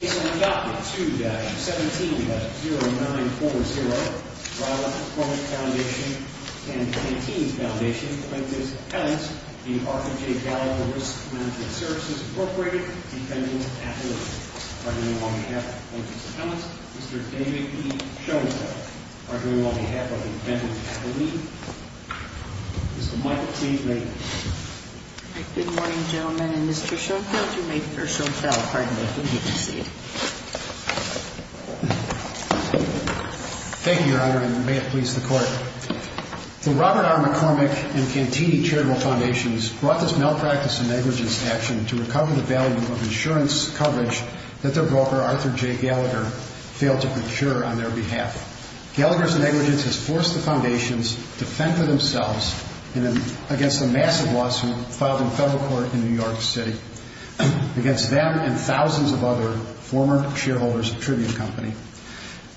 2-17-0940 Robert McCormick Foundation and Pantene Foundation plaintiffs' appellants, the Arthur J. Gallagher Risk Management Services Incorporated Defendant's Affiliate. Arguing on behalf of the plaintiffs' appellants, Mr. David E. Schofield. Arguing on behalf of the Defendant's Affiliate, Mr. Michael T. Reagan. Thank you, Your Honor, and may it please the Court. The Robert R. McCormick and Pantene Charitable Foundations brought this malpractice and negligence action to recover the value of insurance coverage that their broker, Arthur J. Gallagher, failed to procure on their behalf. Gallagher's negligence has forced the Foundations to fend for themselves against a massive lawsuit filed in federal court in New York City against them and thousands of other former shareholders of Tribune Company.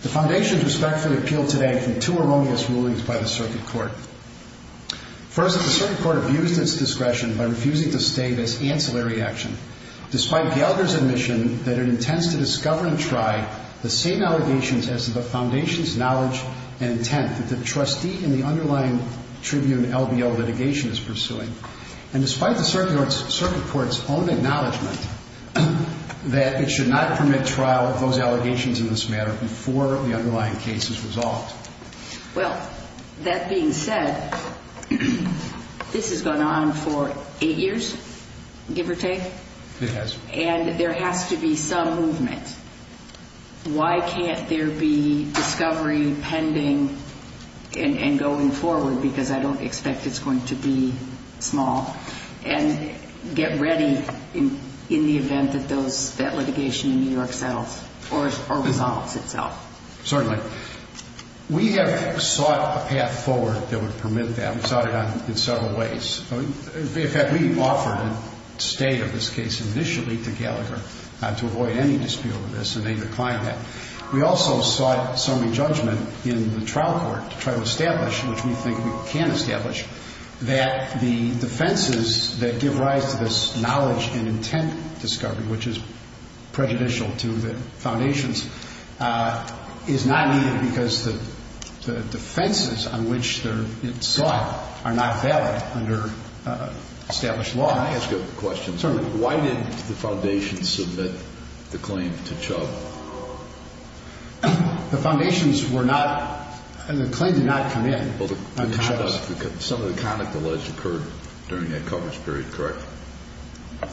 The Foundations respectfully appeal today to two erroneous rulings by the Circuit Court. First, the Circuit Court abused its discretion by refusing to stay this ancillary action. Despite Gallagher's admission that it intends to discover and try the same allegations as the Foundations' knowledge and intent that the trustee in the underlying Tribune LBL litigation is pursuing. And despite the Circuit Court's own acknowledgment that it should not permit trial of those allegations in this matter before the underlying case is resolved. Well, that being said, this has gone on for eight years, give or take? It has. And there has to be some movement. Why can't there be discovery pending and going forward? Because I don't expect it's going to be small. And get ready in the event that that litigation in New York settles or resolves itself. Certainly. We have sought a path forward that would permit that. We sought it in several ways. In fact, we offered a stay of this case initially to Gallagher to avoid any dispute over this, and they declined that. We also sought summary judgment in the trial court to try to establish, which we think we can establish, that the defenses that give rise to this knowledge and intent discovery, which is prejudicial to the Foundations, is not needed because the defenses on which it's sought are not valid under established law. May I ask a question? Certainly. Why did the Foundations submit the claim to Chubb? The Foundations were not – the claim did not come in on Chubb's. Some of the conduct alleged occurred during that coverage period, correct?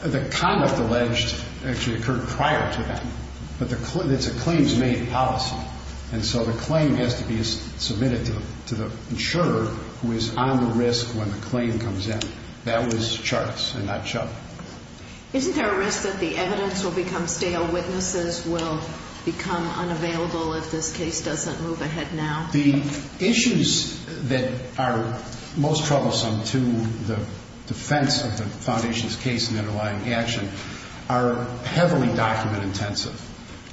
The conduct alleged actually occurred prior to that. But it's a claims-made policy, and so the claim has to be submitted to the insurer who is on the risk when the claim comes in. That was Chubb's and not Chubb. Isn't there a risk that the evidence will become stale? Witnesses will become unavailable if this case doesn't move ahead now? The issues that are most troublesome to the defense of the Foundations case and the underlying action are heavily document-intensive.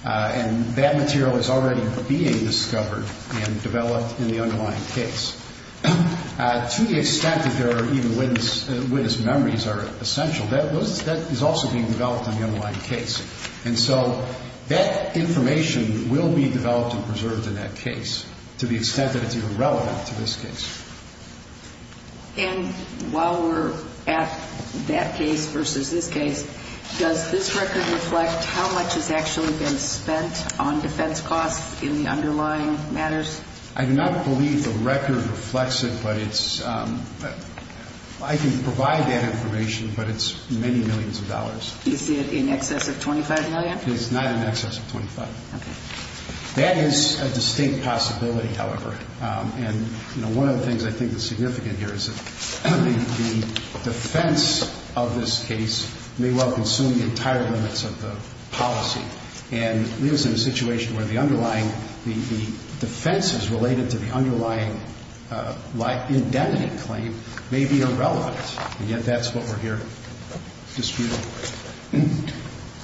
And that material is already being discovered and developed in the underlying case. To the extent that there are even witness memories are essential. That is also being developed in the underlying case. And so that information will be developed and preserved in that case to the extent that it's even relevant to this case. And while we're at that case versus this case, does this record reflect how much has actually been spent on defense costs in the underlying matters? I do not believe the record reflects it, but it's – I can provide that information, but it's many millions of dollars. Is it in excess of $25 million? It's not in excess of $25 million. Okay. That is a distinct possibility, however. And, you know, one of the things I think is significant here is that the defense of this case may well consume the entire limits of the policy and lives in a situation where the underlying – the defenses related to the underlying indemnity claim may be irrelevant. And yet that's what we're here disputing.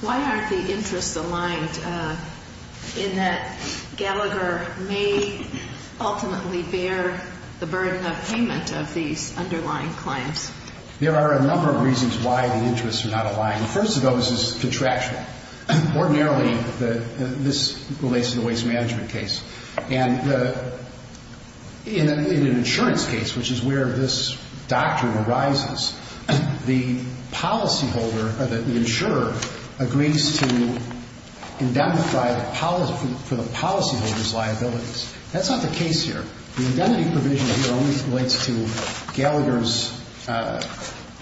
Why aren't the interests aligned in that Gallagher may ultimately bear the burden of payment of these underlying claims? There are a number of reasons why the interests are not aligned. The first of those is contractual. Ordinarily, this relates to the waste management case. And in an insurance case, which is where this doctrine arises, the policyholder or the insurer agrees to indemnify for the policyholder's liabilities. That's not the case here. The indemnity provision here only relates to Gallagher's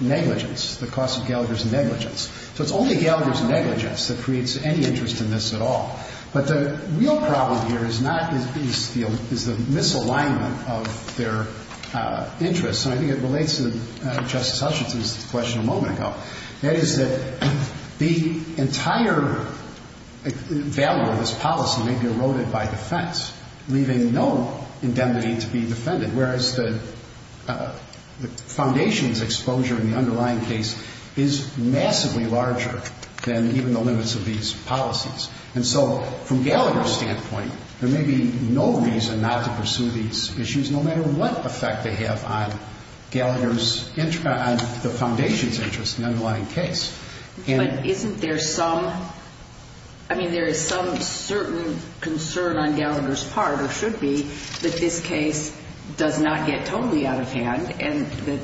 negligence, the cost of Gallagher's negligence. So it's only Gallagher's negligence that creates any interest in this at all. But the real problem here is not – is the misalignment of their interests. And I think it relates to Justice Hutchinson's question a moment ago. That is that the entire value of this policy may be eroded by defense, leaving no indemnity to be defended, whereas the foundation's exposure in the underlying case is massively larger than even the limits of these policies. And so from Gallagher's standpoint, there may be no reason not to pursue these issues, no matter what effect they have on Gallagher's – on the foundation's interest in the underlying case. But isn't there some – I mean, there is some certain concern on Gallagher's part, or should be, that this case does not get totally out of hand and that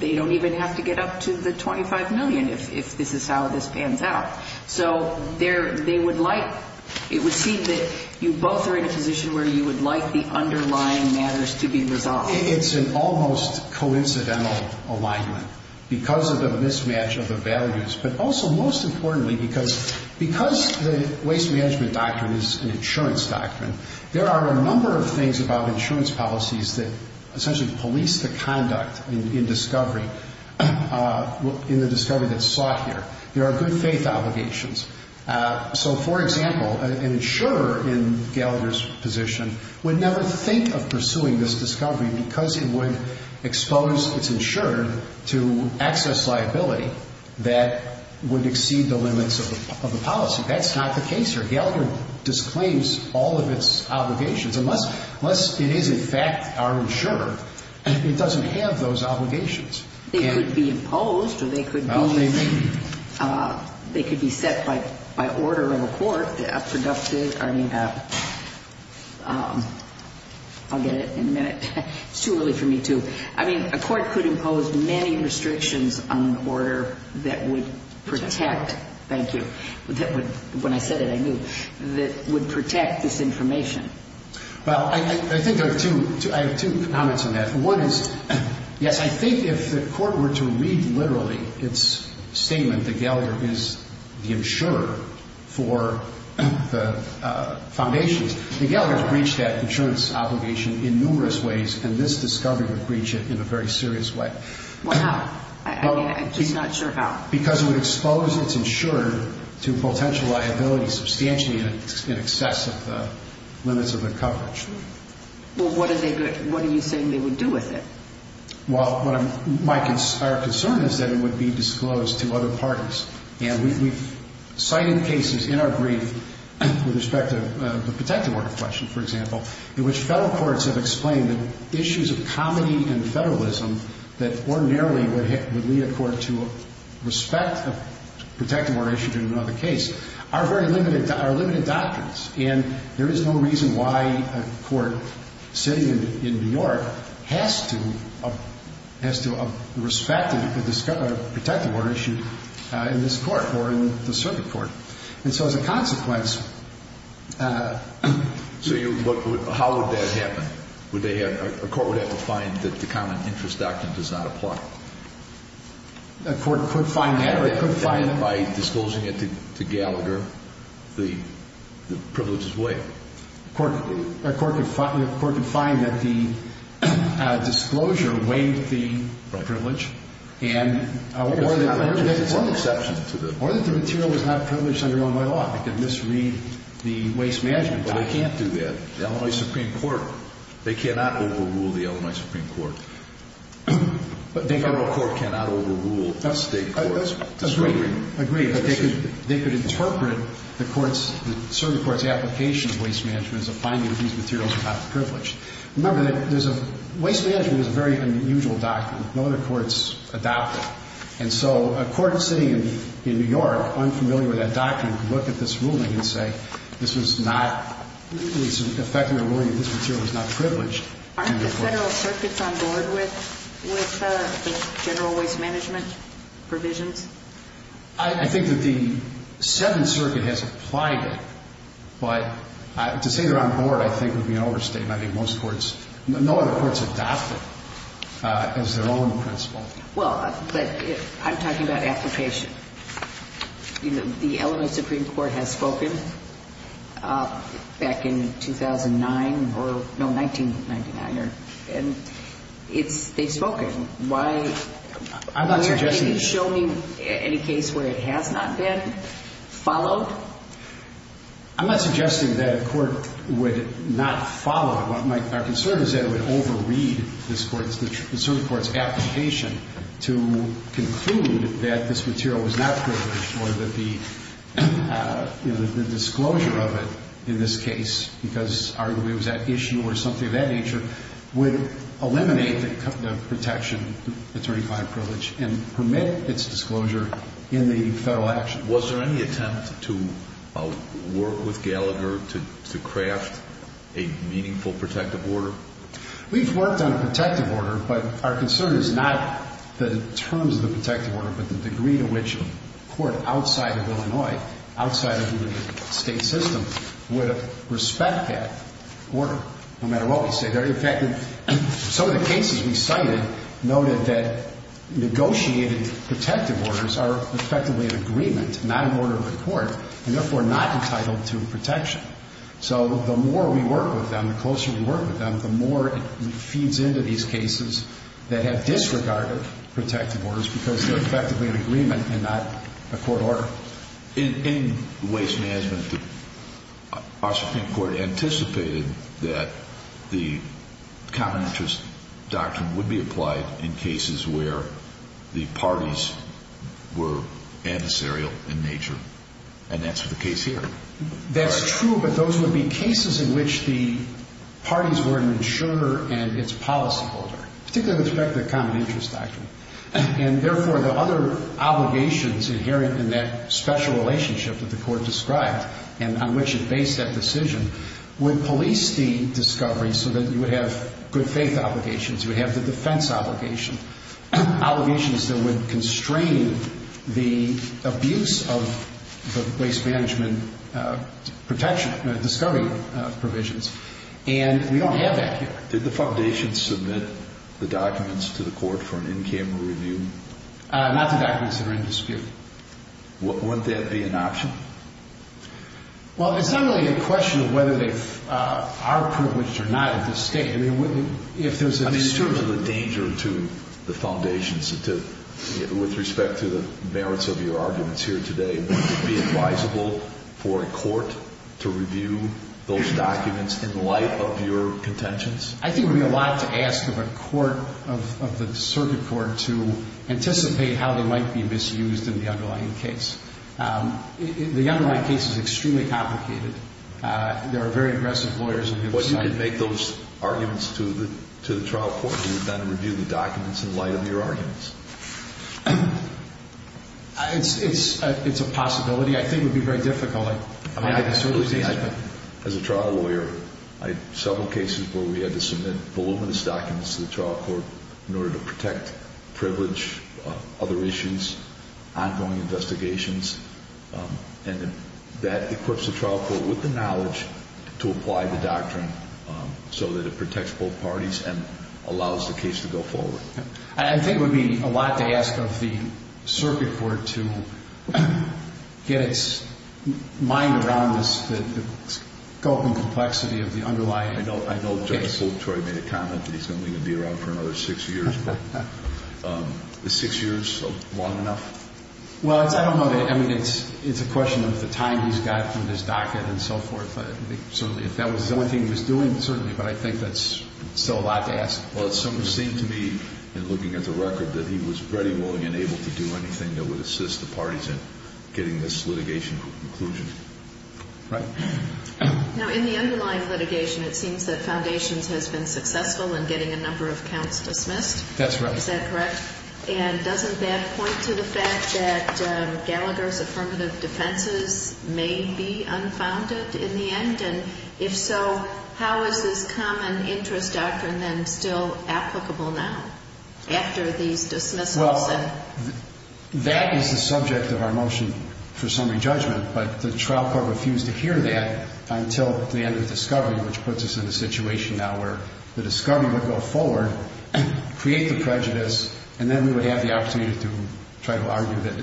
they don't even have to get up to the $25 million if this is how this pans out. So there – they would like – it would seem that you both are in a position where you would like the underlying matters to be resolved. It's an almost coincidental alignment because of the mismatch of the values, but also most importantly because – because the waste management doctrine is an insurance doctrine, there are a number of things about insurance policies that essentially police the conduct in discovery – in the discovery that's sought here. There are good faith obligations. So, for example, an insurer in Gallagher's position would never think of pursuing this discovery because it would expose its insurer to excess liability that would exceed the limits of the policy. That's not the case here. Gallagher disclaims all of its obligations. Unless – unless it is, in fact, our insurer, it doesn't have those obligations. They could be imposed or they could be – they could be set by order of a court that productive – I mean, I'll get it in a minute. It's too early for me to – I mean, a court could impose many restrictions on an order that would protect – thank you. When I said it, I knew – that would protect this information. Well, I think there are two – I have two comments on that. One is, yes, I think if the court were to read literally its statement that Gallagher is the insurer for the foundations, that Gallagher has breached that insurance obligation in numerous ways, and this discovery would breach it in a very serious way. Well, how? I mean, I'm just not sure how. Because it would expose its insurer to potential liability substantially in excess of the limits of their coverage. Well, what are they – what are you saying they would do with it? Well, what I'm – my – our concern is that it would be disclosed to other parties. And we've cited cases in our brief with respect to the protective order question, for example, in which Federal courts have explained that issues of comedy and federalism that ordinarily would hit – would lead a court to respect a protective order issue in another case are very limited – are limited doctrines. And there is no reason why a court sitting in New York has to – has to respect a protective order issue in this court or in the circuit court. And so as a consequence – So you – how would that happen? Would they have – a court would have to find that the common interest doctrine does not apply? A court could find that or it could find – By disclosing it to Gallagher, the privilege is weighed. A court – a court could – a court could find that the disclosure weighed the privilege and – Or that the material was not privileged under Illinois law. It could misread the waste management doctrine. Well, they can't do that. The Illinois Supreme Court – they cannot overrule the Illinois Supreme Court. But the federal court cannot overrule state courts. Well, those – agree, agree. But they could – they could interpret the court's – the circuit court's application of waste management as a finding that these materials are not privileged. Remember that there's a – waste management is a very unusual doctrine. No other court's adopted it. And so a court sitting in New York, unfamiliar with that doctrine, could look at this ruling and say this was not – it's affecting the ruling that this material is not privileged. Aren't the federal circuits on board with the general waste management provisions? I think that the Seventh Circuit has applied it. But to say they're on board, I think, would be an overstatement. I think most courts – no other court's adopted it as their own principle. Well, but I'm talking about application. You know, the Illinois Supreme Court has spoken back in 2009 or – no, 1999 or – and it's – they've spoken. Why – I'm not suggesting – Have you shown me any case where it has not been followed? I'm not suggesting that a court would not follow. My concern is that it would overread this Court's – the Supreme Court's application to conclude that this material was not privileged or that the – you know, the disclosure of it in this case, because arguably it was at issue or something of that nature, would eliminate the protection, the 35 privilege, and permit its disclosure in the federal action. Was there any attempt to work with Gallagher to craft a meaningful protective order? We've worked on a protective order, but our concern is not the terms of the protective order, but the degree to which a court outside of Illinois, outside of the state system, would respect that order, no matter what we say. In fact, some of the cases we cited noted that negotiated protective orders are effectively an agreement, not an order of the court, and therefore not entitled to protection. So the more we work with them, the closer we work with them, the more it feeds into these cases that have disregarded protective orders because they're effectively an agreement and not a court order. In the waste management, our Supreme Court anticipated that the common interest doctrine would be applied in cases where the parties were adversarial in nature, and that's the case here. That's true, but those would be cases in which the parties were an insurer and its policyholder, particularly with respect to the common interest doctrine. And therefore, the other obligations inherent in that special relationship that the court described and on which it based that decision would police the discovery so that you would have good faith obligations, you would have the defense obligation, obligations that would constrain the abuse of the waste management protection, the discovery provisions, and we don't have that here. Did the foundation submit the documents to the court for an in-camera review? Not the documents that are in dispute. Wouldn't that be an option? Well, it's not really a question of whether they are privileged or not at this stage. I mean, if there's a disturbance. I mean, in terms of the danger to the foundation with respect to the merits of your arguments here today, would it be advisable for a court to review those documents in light of your contentions? I think it would be a lot to ask of a court, of the circuit court, to anticipate how they might be misused in the underlying case. The underlying case is extremely complicated. There are very aggressive lawyers on the other side. But you could make those arguments to the trial court who would then review the documents in light of your arguments. It's a possibility. I think it would be very difficult. As a trial lawyer, I had several cases where we had to submit voluminous documents to the trial court in order to protect privilege, other issues, ongoing investigations. And that equips the trial court with the knowledge to apply the doctrine so that it protects both parties and allows the case to go forward. I think it would be a lot to ask of the circuit court to get its mind around the scope and complexity of the underlying case. I know Judge Folkertory made a comment that he's only going to be around for another six years. But is six years long enough? Well, I don't know. I mean, it's a question of the time he's got from his docket and so forth. So if that was the only thing he was doing, certainly. But I think that's still a lot to ask. Well, it seems to me, in looking at the record, that he was ready, willing, and able to do anything that would assist the parties in getting this litigation to a conclusion. Right? Now, in the underlying litigation, it seems that Foundations has been successful in getting a number of counts dismissed. That's right. Is that correct? And doesn't that point to the fact that Gallagher's affirmative defenses may be unfounded in the end? Well, that is the subject of our motion for summary judgment. But the trial court refused to hear that until the end of the discovery, which puts us in a situation now where the discovery would go forward, create the prejudice, and then we would have the opportunity to try to argue that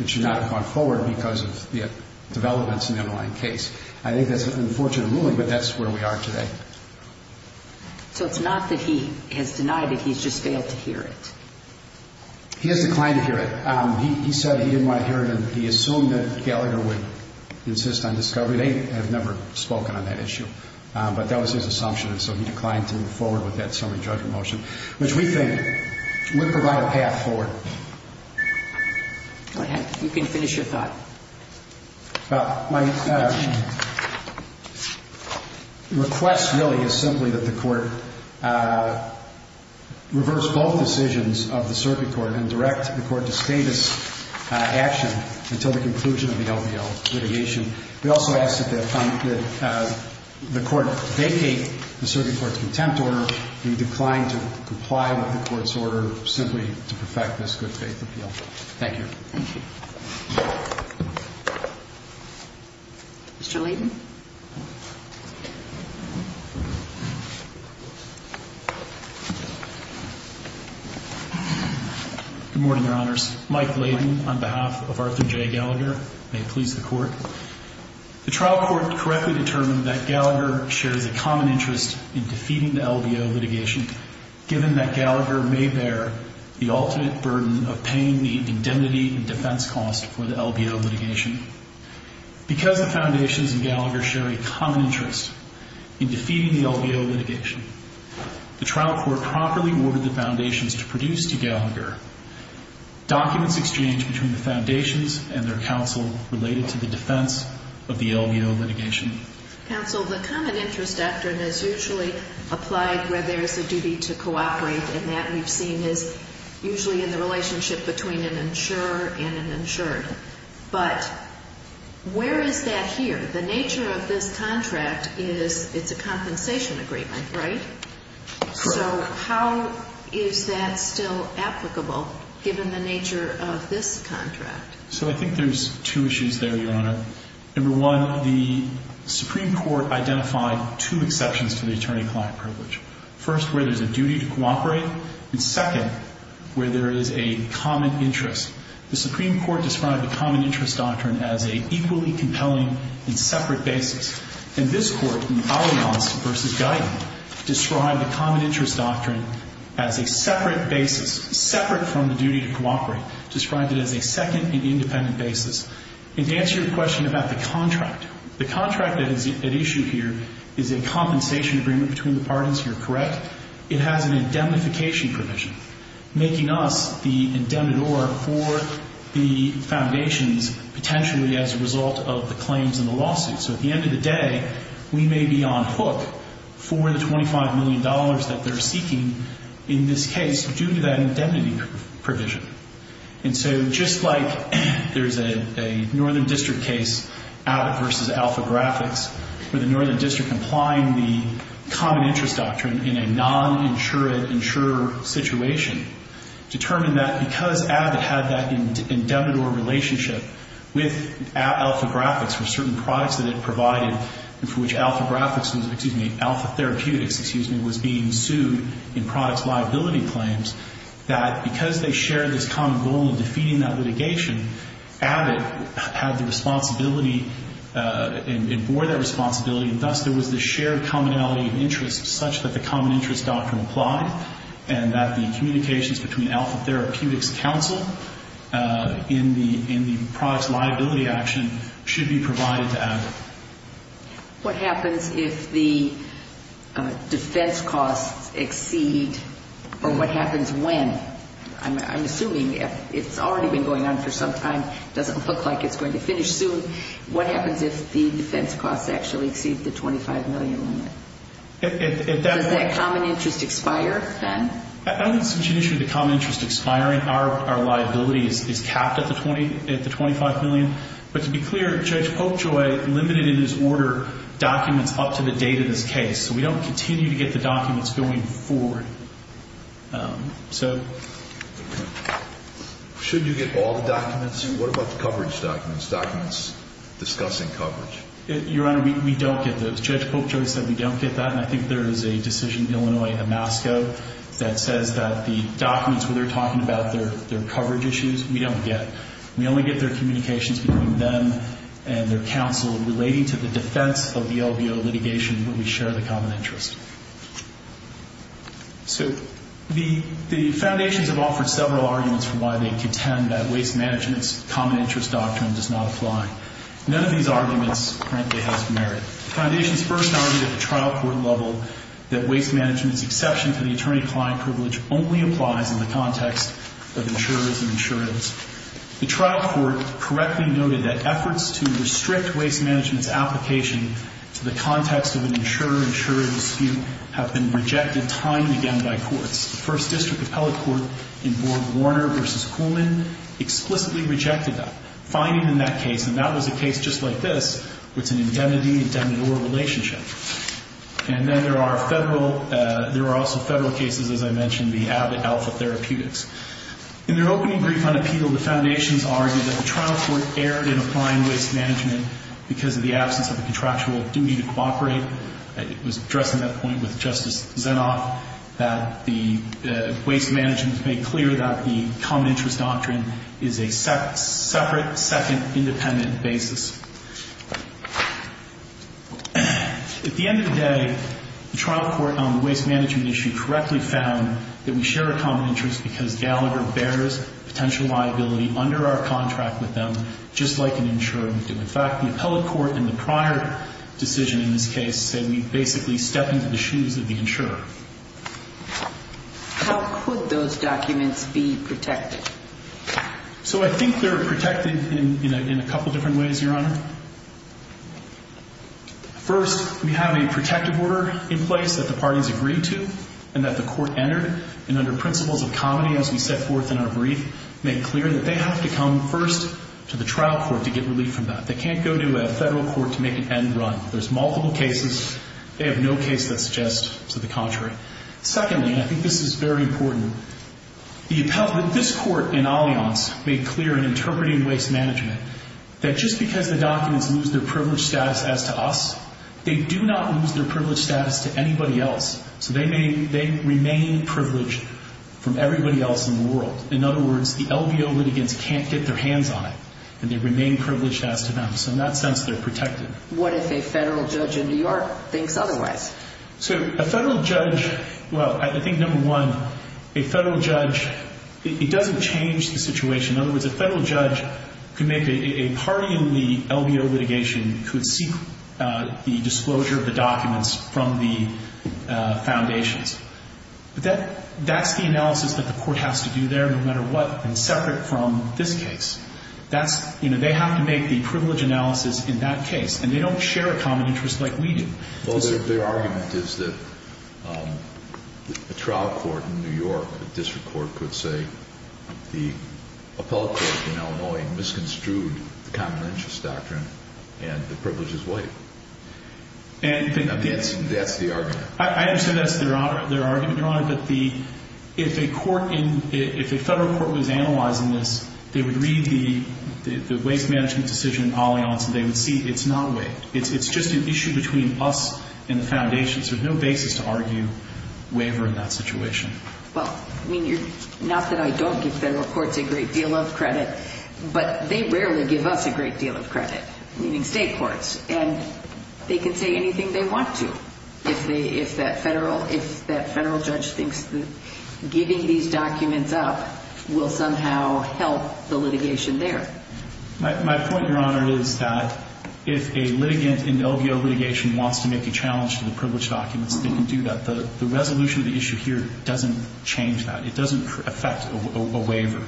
it should not have gone forward because of the developments in the underlying case. I think that's unfortunate. But that's where we are today. So it's not that he has denied it. He's just failed to hear it. He has declined to hear it. He said he didn't want to hear it, and he assumed that Gallagher would insist on discovery. They have never spoken on that issue. But that was his assumption, and so he declined to move forward with that summary judgment motion, which we think would provide a path forward. Go ahead. You can finish your thought. My request really is simply that the court reverse both decisions of the circuit court and direct the court to status action until the conclusion of the LVL litigation. We also ask that the court vacate the circuit court's contempt order. We decline to comply with the court's order simply to perfect this good-faith appeal. Thank you. Thank you. Mr. Layden. Good morning, Your Honors. Mike Layden on behalf of Arthur J. Gallagher. May it please the Court. The trial court correctly determined that Gallagher shares a common interest in defeating the LVL litigation given that Gallagher may bear the ultimate burden of paying the indemnity and defense cost for the LVL litigation. Because the foundations and Gallagher share a common interest in defeating the LVL litigation, the trial court properly ordered the foundations to produce to Gallagher documents exchanged between the foundations and their counsel related to the defense of the LVL litigation. Counsel, the common interest doctrine is usually applied where there is a duty to cooperate, and that we've seen is usually in the relationship between an insurer and an insured. But where is that here? The nature of this contract is it's a compensation agreement, right? Correct. So how is that still applicable given the nature of this contract? So I think there's two issues there, Your Honor. Number one, the Supreme Court identified two exceptions to the attorney-client privilege. First, where there's a duty to cooperate, and second, where there is a common interest. The Supreme Court described the common interest doctrine as a equally compelling and separate basis. And this Court, in Allianz v. Guyton, described the common interest doctrine as a separate basis, separate from the duty to cooperate, described it as a second and independent basis. And to answer your question about the contract, the contract at issue here is a compensation agreement between the parties. You're correct. It has an indemnification provision, making us the indemnitor for the foundations, potentially as a result of the claims in the lawsuit. So at the end of the day, we may be on hook for the $25 million that they're seeking in this case due to that indemnity provision. And so just like there's a Northern District case, Abbott v. Alpha Graphics, where the Northern District, applying the common interest doctrine in a non-insurer situation, determined that because Abbott had that indemnitor relationship with Alpha Graphics for certain products that it provided, and for which Alpha Graphics was, excuse me, Alpha Therapeutics, excuse me, was being sued in products liability claims, that because they shared this common goal of defeating that litigation, Abbott had the responsibility and bore that responsibility, and thus there was this shared commonality of interest such that the common interest doctrine applied, and that the communications between Alpha Therapeutics' counsel in the products liability action should be provided to Abbott. What happens if the defense costs exceed, or what happens when? I'm assuming it's already been going on for some time. It doesn't look like it's going to finish soon. What happens if the defense costs actually exceed the $25 million limit? Does that common interest expire then? I don't think it's such an issue, the common interest expiring. Our liability is capped at the $25 million. But to be clear, Judge Polkjoy limited in his order documents up to the date of this case, so we don't continue to get the documents going forward. Should you get all the documents? What about the coverage documents, documents discussing coverage? Your Honor, we don't get those. Judge Polkjoy said we don't get that, and I think there is a decision in Illinois, Amasco, that says that the documents where they're talking about their coverage issues, we don't get. We only get their communications between them and their counsel relating to the defense of the LBO litigation where we share the common interest. So the foundations have offered several arguments for why they contend that waste management's common interest doctrine does not apply. None of these arguments frankly has merit. The foundations first argued at the trial court level that waste management's exception to the attorney-client privilege only applies in the context of insurers and insurance. The trial court correctly noted that efforts to restrict waste management's application to the context of an insurer-insurer dispute have been rejected time and again by courts. The First District Appellate Court in Board Warner v. Kuhlman explicitly rejected that, finding in that case, and that was a case just like this, with an indemnity-indemnity relationship. And then there are federal, there are also federal cases, as I mentioned, the Abbott Alpha Therapeutics. In their opening brief on appeal, the foundations argued that the trial court erred in applying waste management because of the absence of a contractual duty to cooperate. It was addressing that point with Justice Zenoff that the waste management's made clear that the common interest doctrine is a separate, second, independent basis. At the end of the day, the trial court on the waste management issue correctly found that we share a common interest because Gallagher bears potential liability under our contract with them, just like an insurer would do. In fact, the appellate court in the prior decision in this case said we basically step into the shoes of the insurer. How could those documents be protected? So I think they're protected in a couple different ways, Your Honor. First, we have a protective order in place that the parties agreed to and that the court entered, and under principles of comedy, as we set forth in our brief, made clear that they have to come first to the trial court to get relief from that. They can't go to a federal court to make an end run. There's multiple cases. They have no case that's just to the contrary. Secondly, and I think this is very important, the appellate, this court in Allianz, made clear in interpreting waste management that just because the documents lose their privileged status as to us, they do not lose their privileged status to anybody else. So they remain privileged from everybody else in the world. In other words, the LBO litigants can't get their hands on it, and they remain privileged as to them. So in that sense, they're protected. What if a federal judge in New York thinks otherwise? So a federal judge, well, I think, number one, a federal judge, it doesn't change the situation. In other words, a federal judge can make a party in the LBO litigation could seek the disclosure of the documents from the foundations. But that's the analysis that the court has to do there no matter what, and separate from this case. That's, you know, they have to make the privilege analysis in that case, and they don't share a common interest like we do. Well, their argument is that a trial court in New York, a district court, could say the appellate court in Illinois misconstrued the common interest doctrine, and the privilege is waived. I mean, that's the argument. I understand that's their argument, Your Honor, but if a federal court was analyzing this, they would read the waste management decision in Allianz, and they would see it's not waived. It's just an issue between us and the foundations. There's no basis to argue waiver in that situation. Well, I mean, not that I don't give federal courts a great deal of credit, but they rarely give us a great deal of credit, meaning state courts, and they can say anything they want to if that federal judge thinks that giving these documents up will somehow help the litigation there. My point, Your Honor, is that if a litigant in LBO litigation wants to make a challenge to the privilege documents, they can do that. The resolution of the issue here doesn't change that. It doesn't affect a waiver.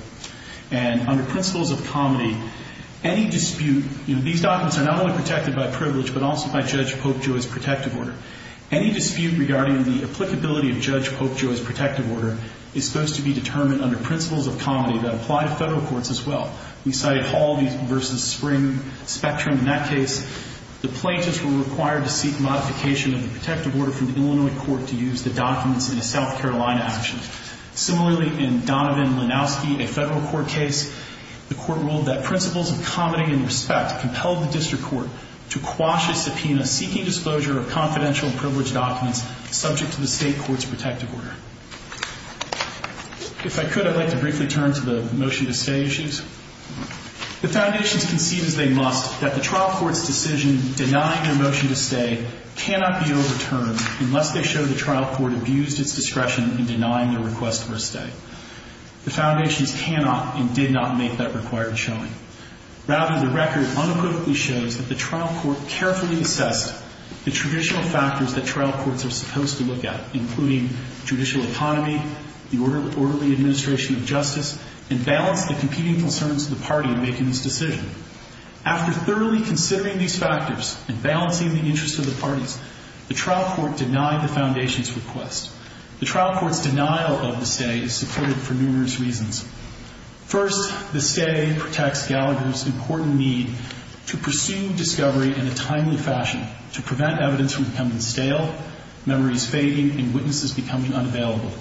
And under principles of comity, any dispute, you know, these documents are not only protected by privilege but also by Judge Popejoy's protective order. Any dispute regarding the applicability of Judge Popejoy's protective order is supposed to be determined under principles of comity that apply to federal courts as well. We cite Hall v. Spring Spectrum. In that case, the plaintiffs were required to seek modification of the protective order from the Illinois court to use the documents in a South Carolina action. Similarly, in Donovan-Linowski, a federal court case, the court ruled that principles of comity and respect compelled the district court to quash a subpoena seeking disclosure of confidential privilege documents subject to the state court's protective order. If I could, I'd like to briefly turn to the motion to stay issues. The foundations concede as they must that the trial court's decision denying their motion to stay cannot be overturned unless they show the trial court abused its discretion in denying their request for a stay. The foundations cannot and did not make that required showing. Rather, the record unequivocally shows that the trial court carefully assessed the traditional factors that trial courts are supposed to look at, including judicial autonomy, the orderly administration of justice, and balanced the competing concerns of the party in making this decision. After thoroughly considering these factors and balancing the interests of the parties, the trial court denied the foundation's request. The trial court's denial of the stay is supported for numerous reasons. First, the stay protects Gallagher's important need to pursue discovery in a timely fashion to prevent evidence from becoming stale, memories fading, and witnesses becoming unavailable.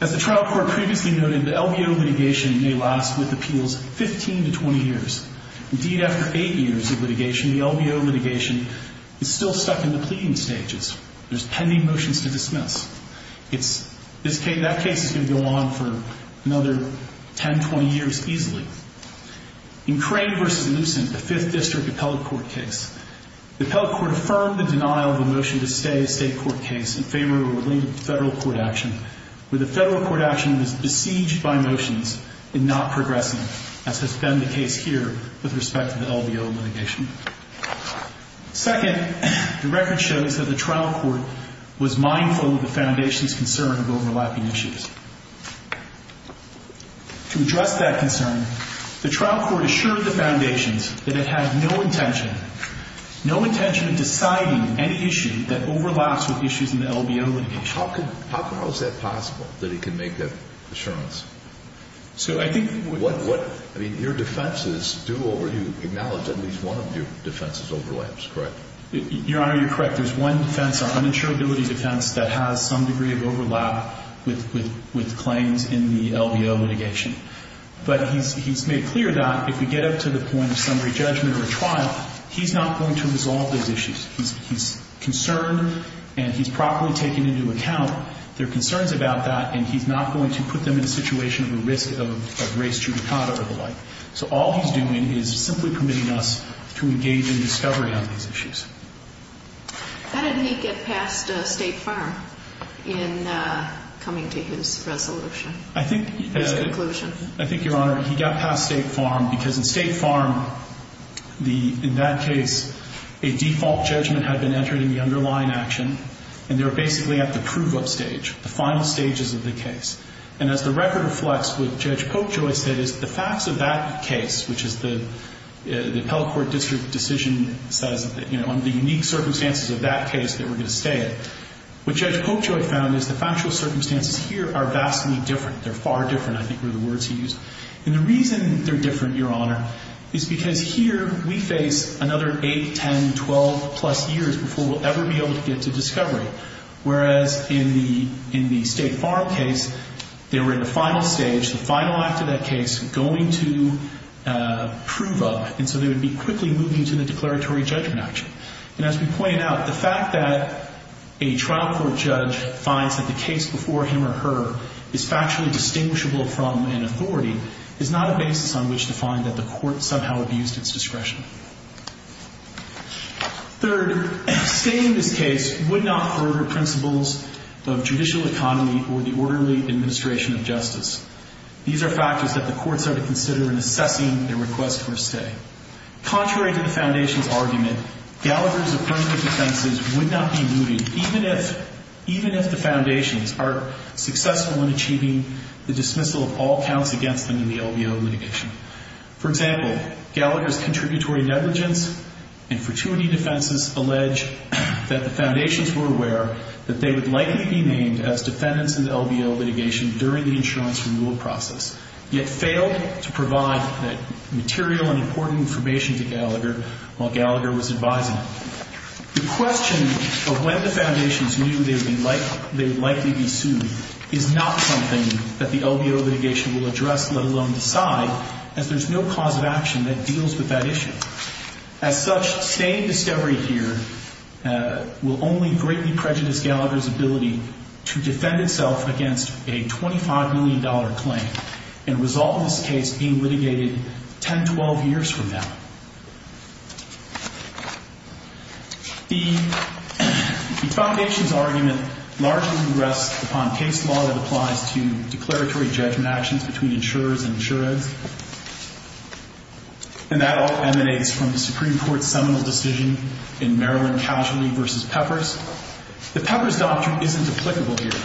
As the trial court previously noted, the LBO litigation may last with appeals 15 to 20 years. Indeed, after eight years of litigation, the LBO litigation is still stuck in the pleading stages. There's pending motions to dismiss. That case is going to go on for another 10, 20 years easily. In Crane v. Lucent, the Fifth District appellate court case, the appellate court affirmed the denial of a motion to stay a state court case in favor of a related federal court action, where the federal court action was besieged by motions and not progressing, as has been the case here with respect to the LBO litigation. Second, the record shows that the trial court was mindful of the foundation's concern of overlapping issues. To address that concern, the trial court assured the foundations that it had no intention, no intention of deciding any issue that overlaps with issues in the LBO litigation. How is that possible, that it can make that assurance? Your defenses do acknowledge at least one of your defenses overlaps, correct? Your Honor, you're correct. There's one defense, our uninsurability defense, that has some degree of overlap with claims in the LBO litigation. But he's made clear that if we get up to the point of summary judgment or trial, he's not going to resolve those issues. He's concerned, and he's properly taken into account their concerns about that, and he's not going to put them in a situation of a risk of race judicata or the like. So all he's doing is simply permitting us to engage in discovery on these issues. How did he get past State Farm in coming to his resolution, his conclusion? I think, Your Honor, he got past State Farm because in State Farm, in that case, a default judgment had been entered in the underlying action, and they were basically at the prove-up stage, the final stages of the case. And as the record reflects, what Judge Polkjoy said is the facts of that case, which is the Pell Court district decision says that, you know, under the unique circumstances of that case that we're going to stay at, what Judge Polkjoy found is the factual circumstances here are vastly different. They're far different, I think, were the words he used. And the reason they're different, Your Honor, is because here we face another 8, 10, 12-plus years before we'll ever be able to get to discovery, whereas in the State Farm case, they were in the final stage, the final act of that case going to prove-up, and so they would be quickly moving to the declaratory judgment action. And as we pointed out, the fact that a trial court judge finds that the case before him or her is factually distinguishable from an authority is not a basis on which to find that the court somehow abused its discretion. Third, staying in this case would not further principles of judicial economy or the orderly administration of justice. These are factors that the courts are to consider in assessing their request for a stay. Contrary to the Foundation's argument, Gallagher's affirmative defenses would not be mooted, even if the Foundations are successful in achieving the dismissal of all counts against them in the LBO litigation. For example, Gallagher's contributory negligence and fortuity defenses allege that the Foundations were aware that they would likely be named as defendants in the LBO litigation during the insurance renewal process, yet failed to provide that material and important information to Gallagher while Gallagher was advising. The question of when the Foundations knew they would likely be sued is not something that the LBO litigation will address, let alone decide, as there's no cause of action that deals with that issue. As such, staying in discovery here will only greatly prejudice Gallagher's ability to defend itself against a $25 million claim and resolve this case being litigated 10, 12 years from now. The Foundation's argument largely rests upon case law that applies to declaratory judgment actions between insurers and insureds, and that all emanates from the Supreme Court's seminal decision in Maryland Casualty v. Peppers. The Peppers Doctrine isn't applicable here.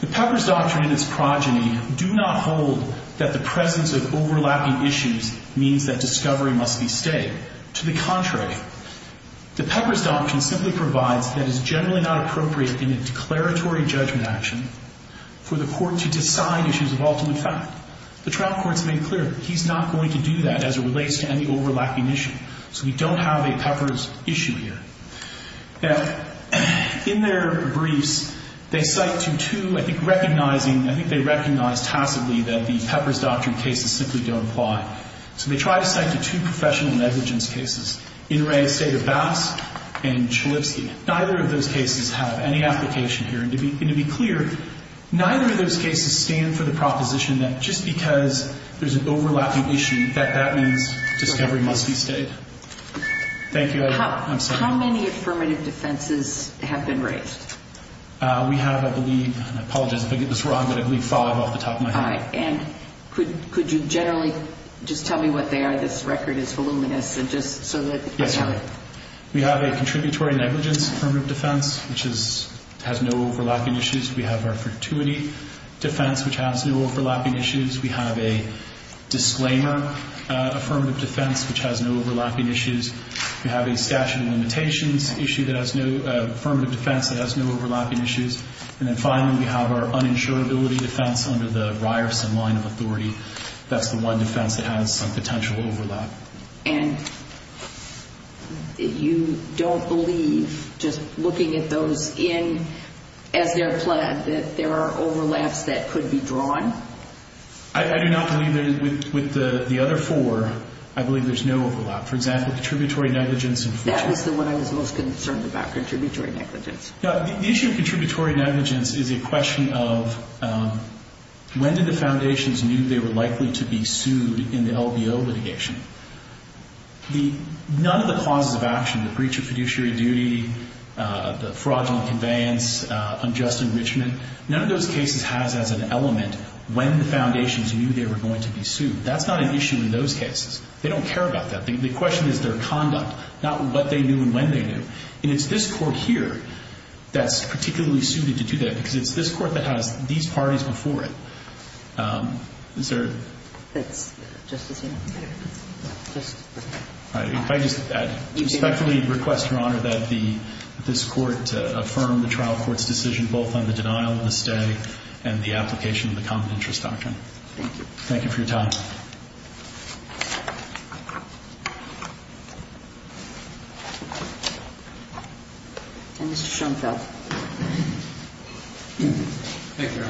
The Peppers Doctrine and its progeny do not hold that the presence of overlapping issues means that discovery must be stayed. To the contrary, the Peppers Doctrine simply provides that it's generally not appropriate in a declaratory judgment action for the court to decide issues of ultimate fact. The trial court's made clear that he's not going to do that as it relates to any overlapping issue, so we don't have a Peppers issue here. Now, in their briefs, they cite to two, I think recognizing, tacitly, that the Peppers Doctrine cases simply don't apply. So they try to cite to two professional negligence cases, In Re's State of Balance and Chalipsky. Neither of those cases have any application here. And to be clear, neither of those cases stand for the proposition that just because there's an overlapping issue, that that means discovery must be stayed. Thank you. I'm sorry. How many affirmative defenses have been raised? We have, I believe, and I apologize if I get this wrong, but I believe five off the top of my head. And could you generally just tell me what they are? This record is voluminous. Yes, ma'am. We have a contributory negligence affirmative defense, which has no overlapping issues. We have our fortuity defense, which has no overlapping issues. We have a disclaimer affirmative defense, which has no overlapping issues. We have a statute of limitations issue that has no affirmative defense that has no overlapping issues. And then finally, we have our uninsurability defense under the Ryerson line of authority. That's the one defense that has some potential overlap. And you don't believe, just looking at those in as their plan, that there are overlaps that could be drawn? I do not believe that with the other four, I believe there's no overlap. For example, contributory negligence and fortuity. That was the one I was most concerned about, contributory negligence. The issue of contributory negligence is a question of when did the foundations knew they were likely to be sued in the LBO litigation? None of the causes of action, the breach of fiduciary duty, the fraudulent conveyance, unjust enrichment, none of those cases has as an element when the foundations knew they were going to be sued. That's not an issue in those cases. They don't care about that. The question is their conduct, not what they knew and when they knew. And it's this court here that's particularly suited to do that, because it's this court that has these parties before it. Is there? It's just the same. All right. If I just respectfully request, Your Honor, that this court affirm the trial court's decision both on the denial of the stay and the application of the common interest doctrine. Thank you. Thank you for your time. And Mr. Schoenfeld. Thank you, Your Honors.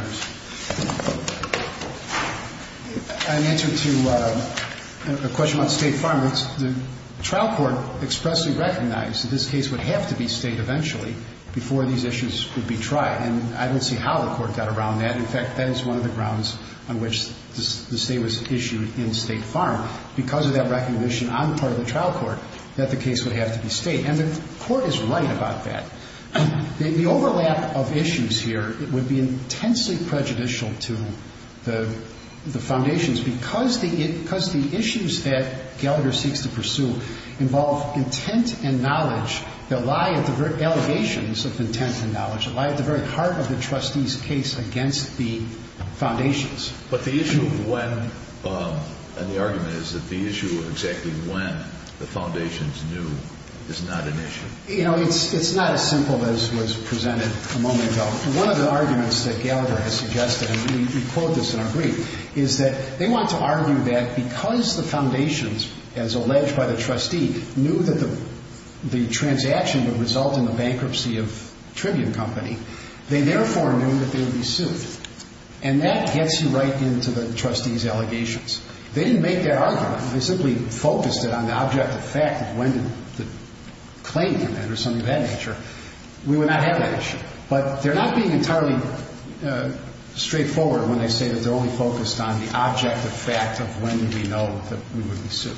In answer to a question on State Farmers, the trial court expressly recognized that this case would have to be stayed eventually before these issues would be tried. And I don't see how the court got around that. In fact, that is one of the grounds on which the stay was issued in State Farm, because of that recognition on the part of the trial court that the case would have to be stayed. And the court is right about that. The overlap of issues here would be intensely prejudicial to the foundations, because the issues that Gallagher seeks to pursue involve intent and knowledge that lie at the very allegations of intent and knowledge, that lie at the very heart of the trustees' case against the foundations. But the issue of when, and the argument is that the issue of exactly when the foundations knew is not an issue. You know, it's not as simple as was presented a moment ago. One of the arguments that Gallagher has suggested, and we quote this in our brief, is that they want to argue that because the foundations, as alleged by the trustee, knew that the transaction would result in the bankruptcy of Tribune Company, they therefore knew that they would be sued. And that gets you right into the trustees' allegations. They didn't make that argument. They simply focused it on the object of fact of when the claim came in or something of that nature. We would not have that issue. But they're not being entirely straightforward when they say that they're only focused on the object of fact of when we know that we would be sued.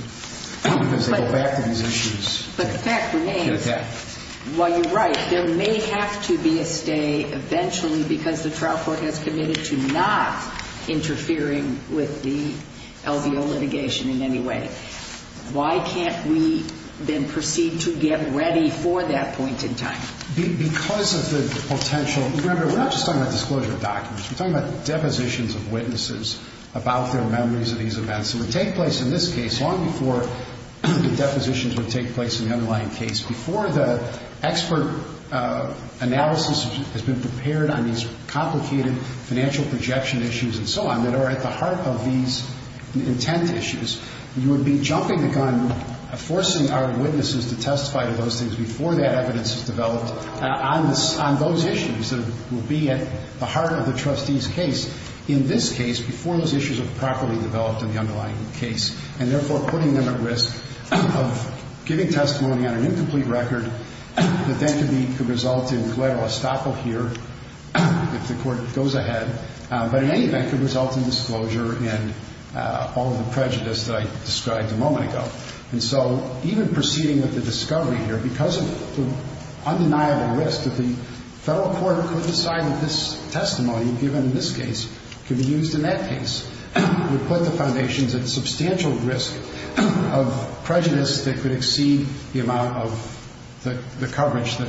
Because they go back to these issues. But the fact remains, while you're right, there may have to be a stay eventually because the trial court has committed to not interfering with the LVO litigation in any way. Why can't we then proceed to get ready for that point in time? Because of the potential. Remember, we're not just talking about disclosure of documents. We're talking about depositions of witnesses about their memories of these events. It would take place in this case long before the depositions would take place in the underlying case, before the expert analysis has been prepared on these complicated financial projection issues and so on that are at the heart of these intent issues. You would be jumping the gun, forcing our witnesses to testify to those things before that evidence is developed on those issues that would be at the heart of the trustees' case in this case before those issues are properly developed in the underlying case and therefore putting them at risk of giving testimony on an incomplete record that then could result in collateral estoppel here if the court goes ahead, but in any event could result in disclosure and all of the prejudice that I described a moment ago. And so even proceeding with the discovery here because of the undeniable risk that the federal court could decide that this testimony given in this case could be used in that case would put the foundations at substantial risk of prejudice that could exceed the amount of the coverage that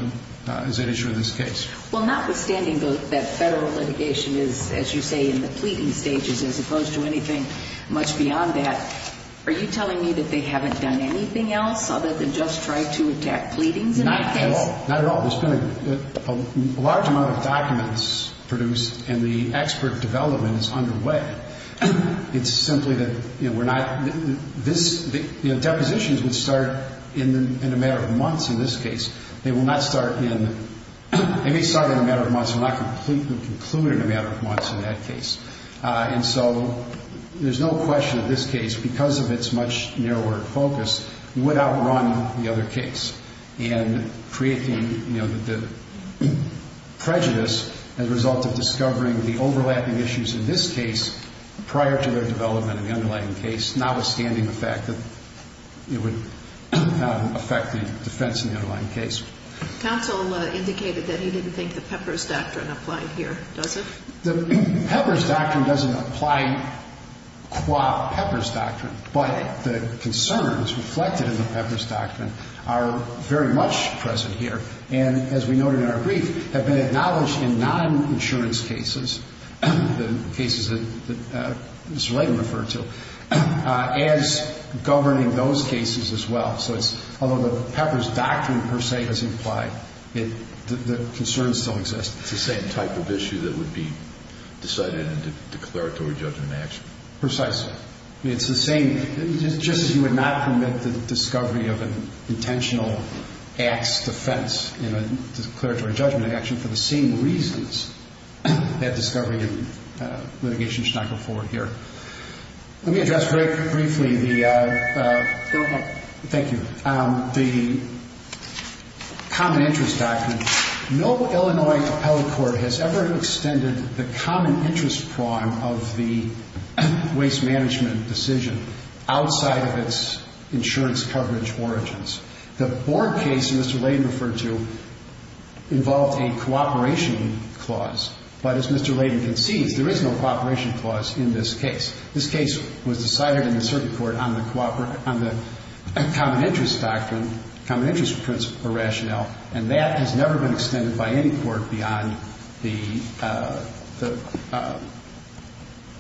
is at issue in this case. Well, notwithstanding that federal litigation is, as you say, in the pleading stages as opposed to anything much beyond that, are you telling me that they haven't done anything else other than just try to attack pleadings in that case? Not at all. Not at all. There's been a large amount of documents produced, and the expert development is underway. It's simply that we're not ñ depositions would start in a matter of months in this case. They will not start in ñ they may start in a matter of months and not completely conclude in a matter of months in that case. And so there's no question that this case, because of its much narrower focus, would outrun the other case in creating, you know, the prejudice as a result of discovering the overlapping issues in this case prior to their development in the underlying case, notwithstanding the fact that it would affect the defense in the underlying case. Counsel indicated that he didn't think the Peppers Doctrine applied here, does it? The Peppers Doctrine doesn't apply qua Peppers Doctrine, but the concerns reflected in the Peppers Doctrine are very much present here and, as we noted in our brief, have been acknowledged in non-insurance cases, the cases that Mr. Leighton referred to, as governing those cases as well. So it's ñ although the Peppers Doctrine per se doesn't apply, the concerns still exist. It's the same type of issue that would be decided in a declaratory judgment action? Precisely. I mean, it's the same ñ just as you would not permit the discovery of an intentional axe defense in a declaratory judgment action for the same reasons, that discovery and litigation should not go forward here. Let me address very briefly the ñ Go ahead. Thank you. The common interest doctrine. No Illinois appellate court has ever extended the common interest prong of the waste management decision outside of its insurance coverage origins. The Borg case Mr. Leighton referred to involved a cooperation clause, but as Mr. Leighton concedes, there is no cooperation clause in this case. This case was decided in the circuit court on the common interest doctrine, common interest principle or rationale, and that has never been extended by any court beyond the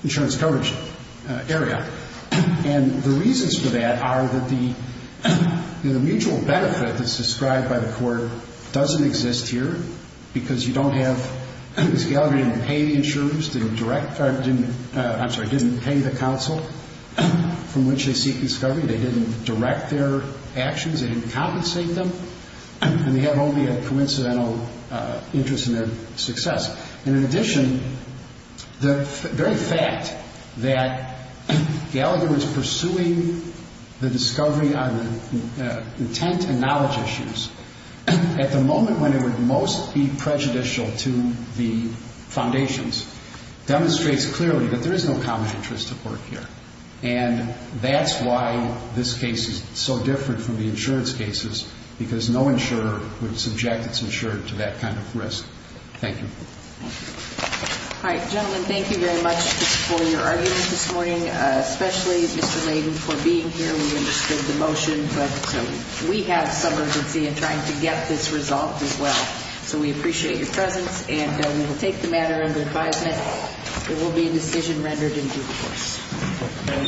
insurance coverage area. And the reasons for that are that the mutual benefit that's described by the court doesn't exist here because you don't have ñ because the other didn't pay the insurance, didn't direct ñ I'm sorry, didn't pay the counsel from which they seek discovery. They didn't direct their actions. They didn't compensate them, and they had only a coincidental interest in their success. And in addition, the very fact that Gallagher was pursuing the discovery on the intent and knowledge issues at the moment when it would most be prejudicial to the foundations demonstrates clearly that there is no common interest at work here, and that's why this case is so different from the insurance cases because no insurer would subject its insurer to that kind of risk. Thank you. All right. Gentlemen, thank you very much for your argument this morning, especially Mr. Leighton for being here. We understood the motion, but we have some urgency in trying to get this resolved as well, so we appreciate your presence, and we will take the matter under advisement. There will be a decision rendered in due course.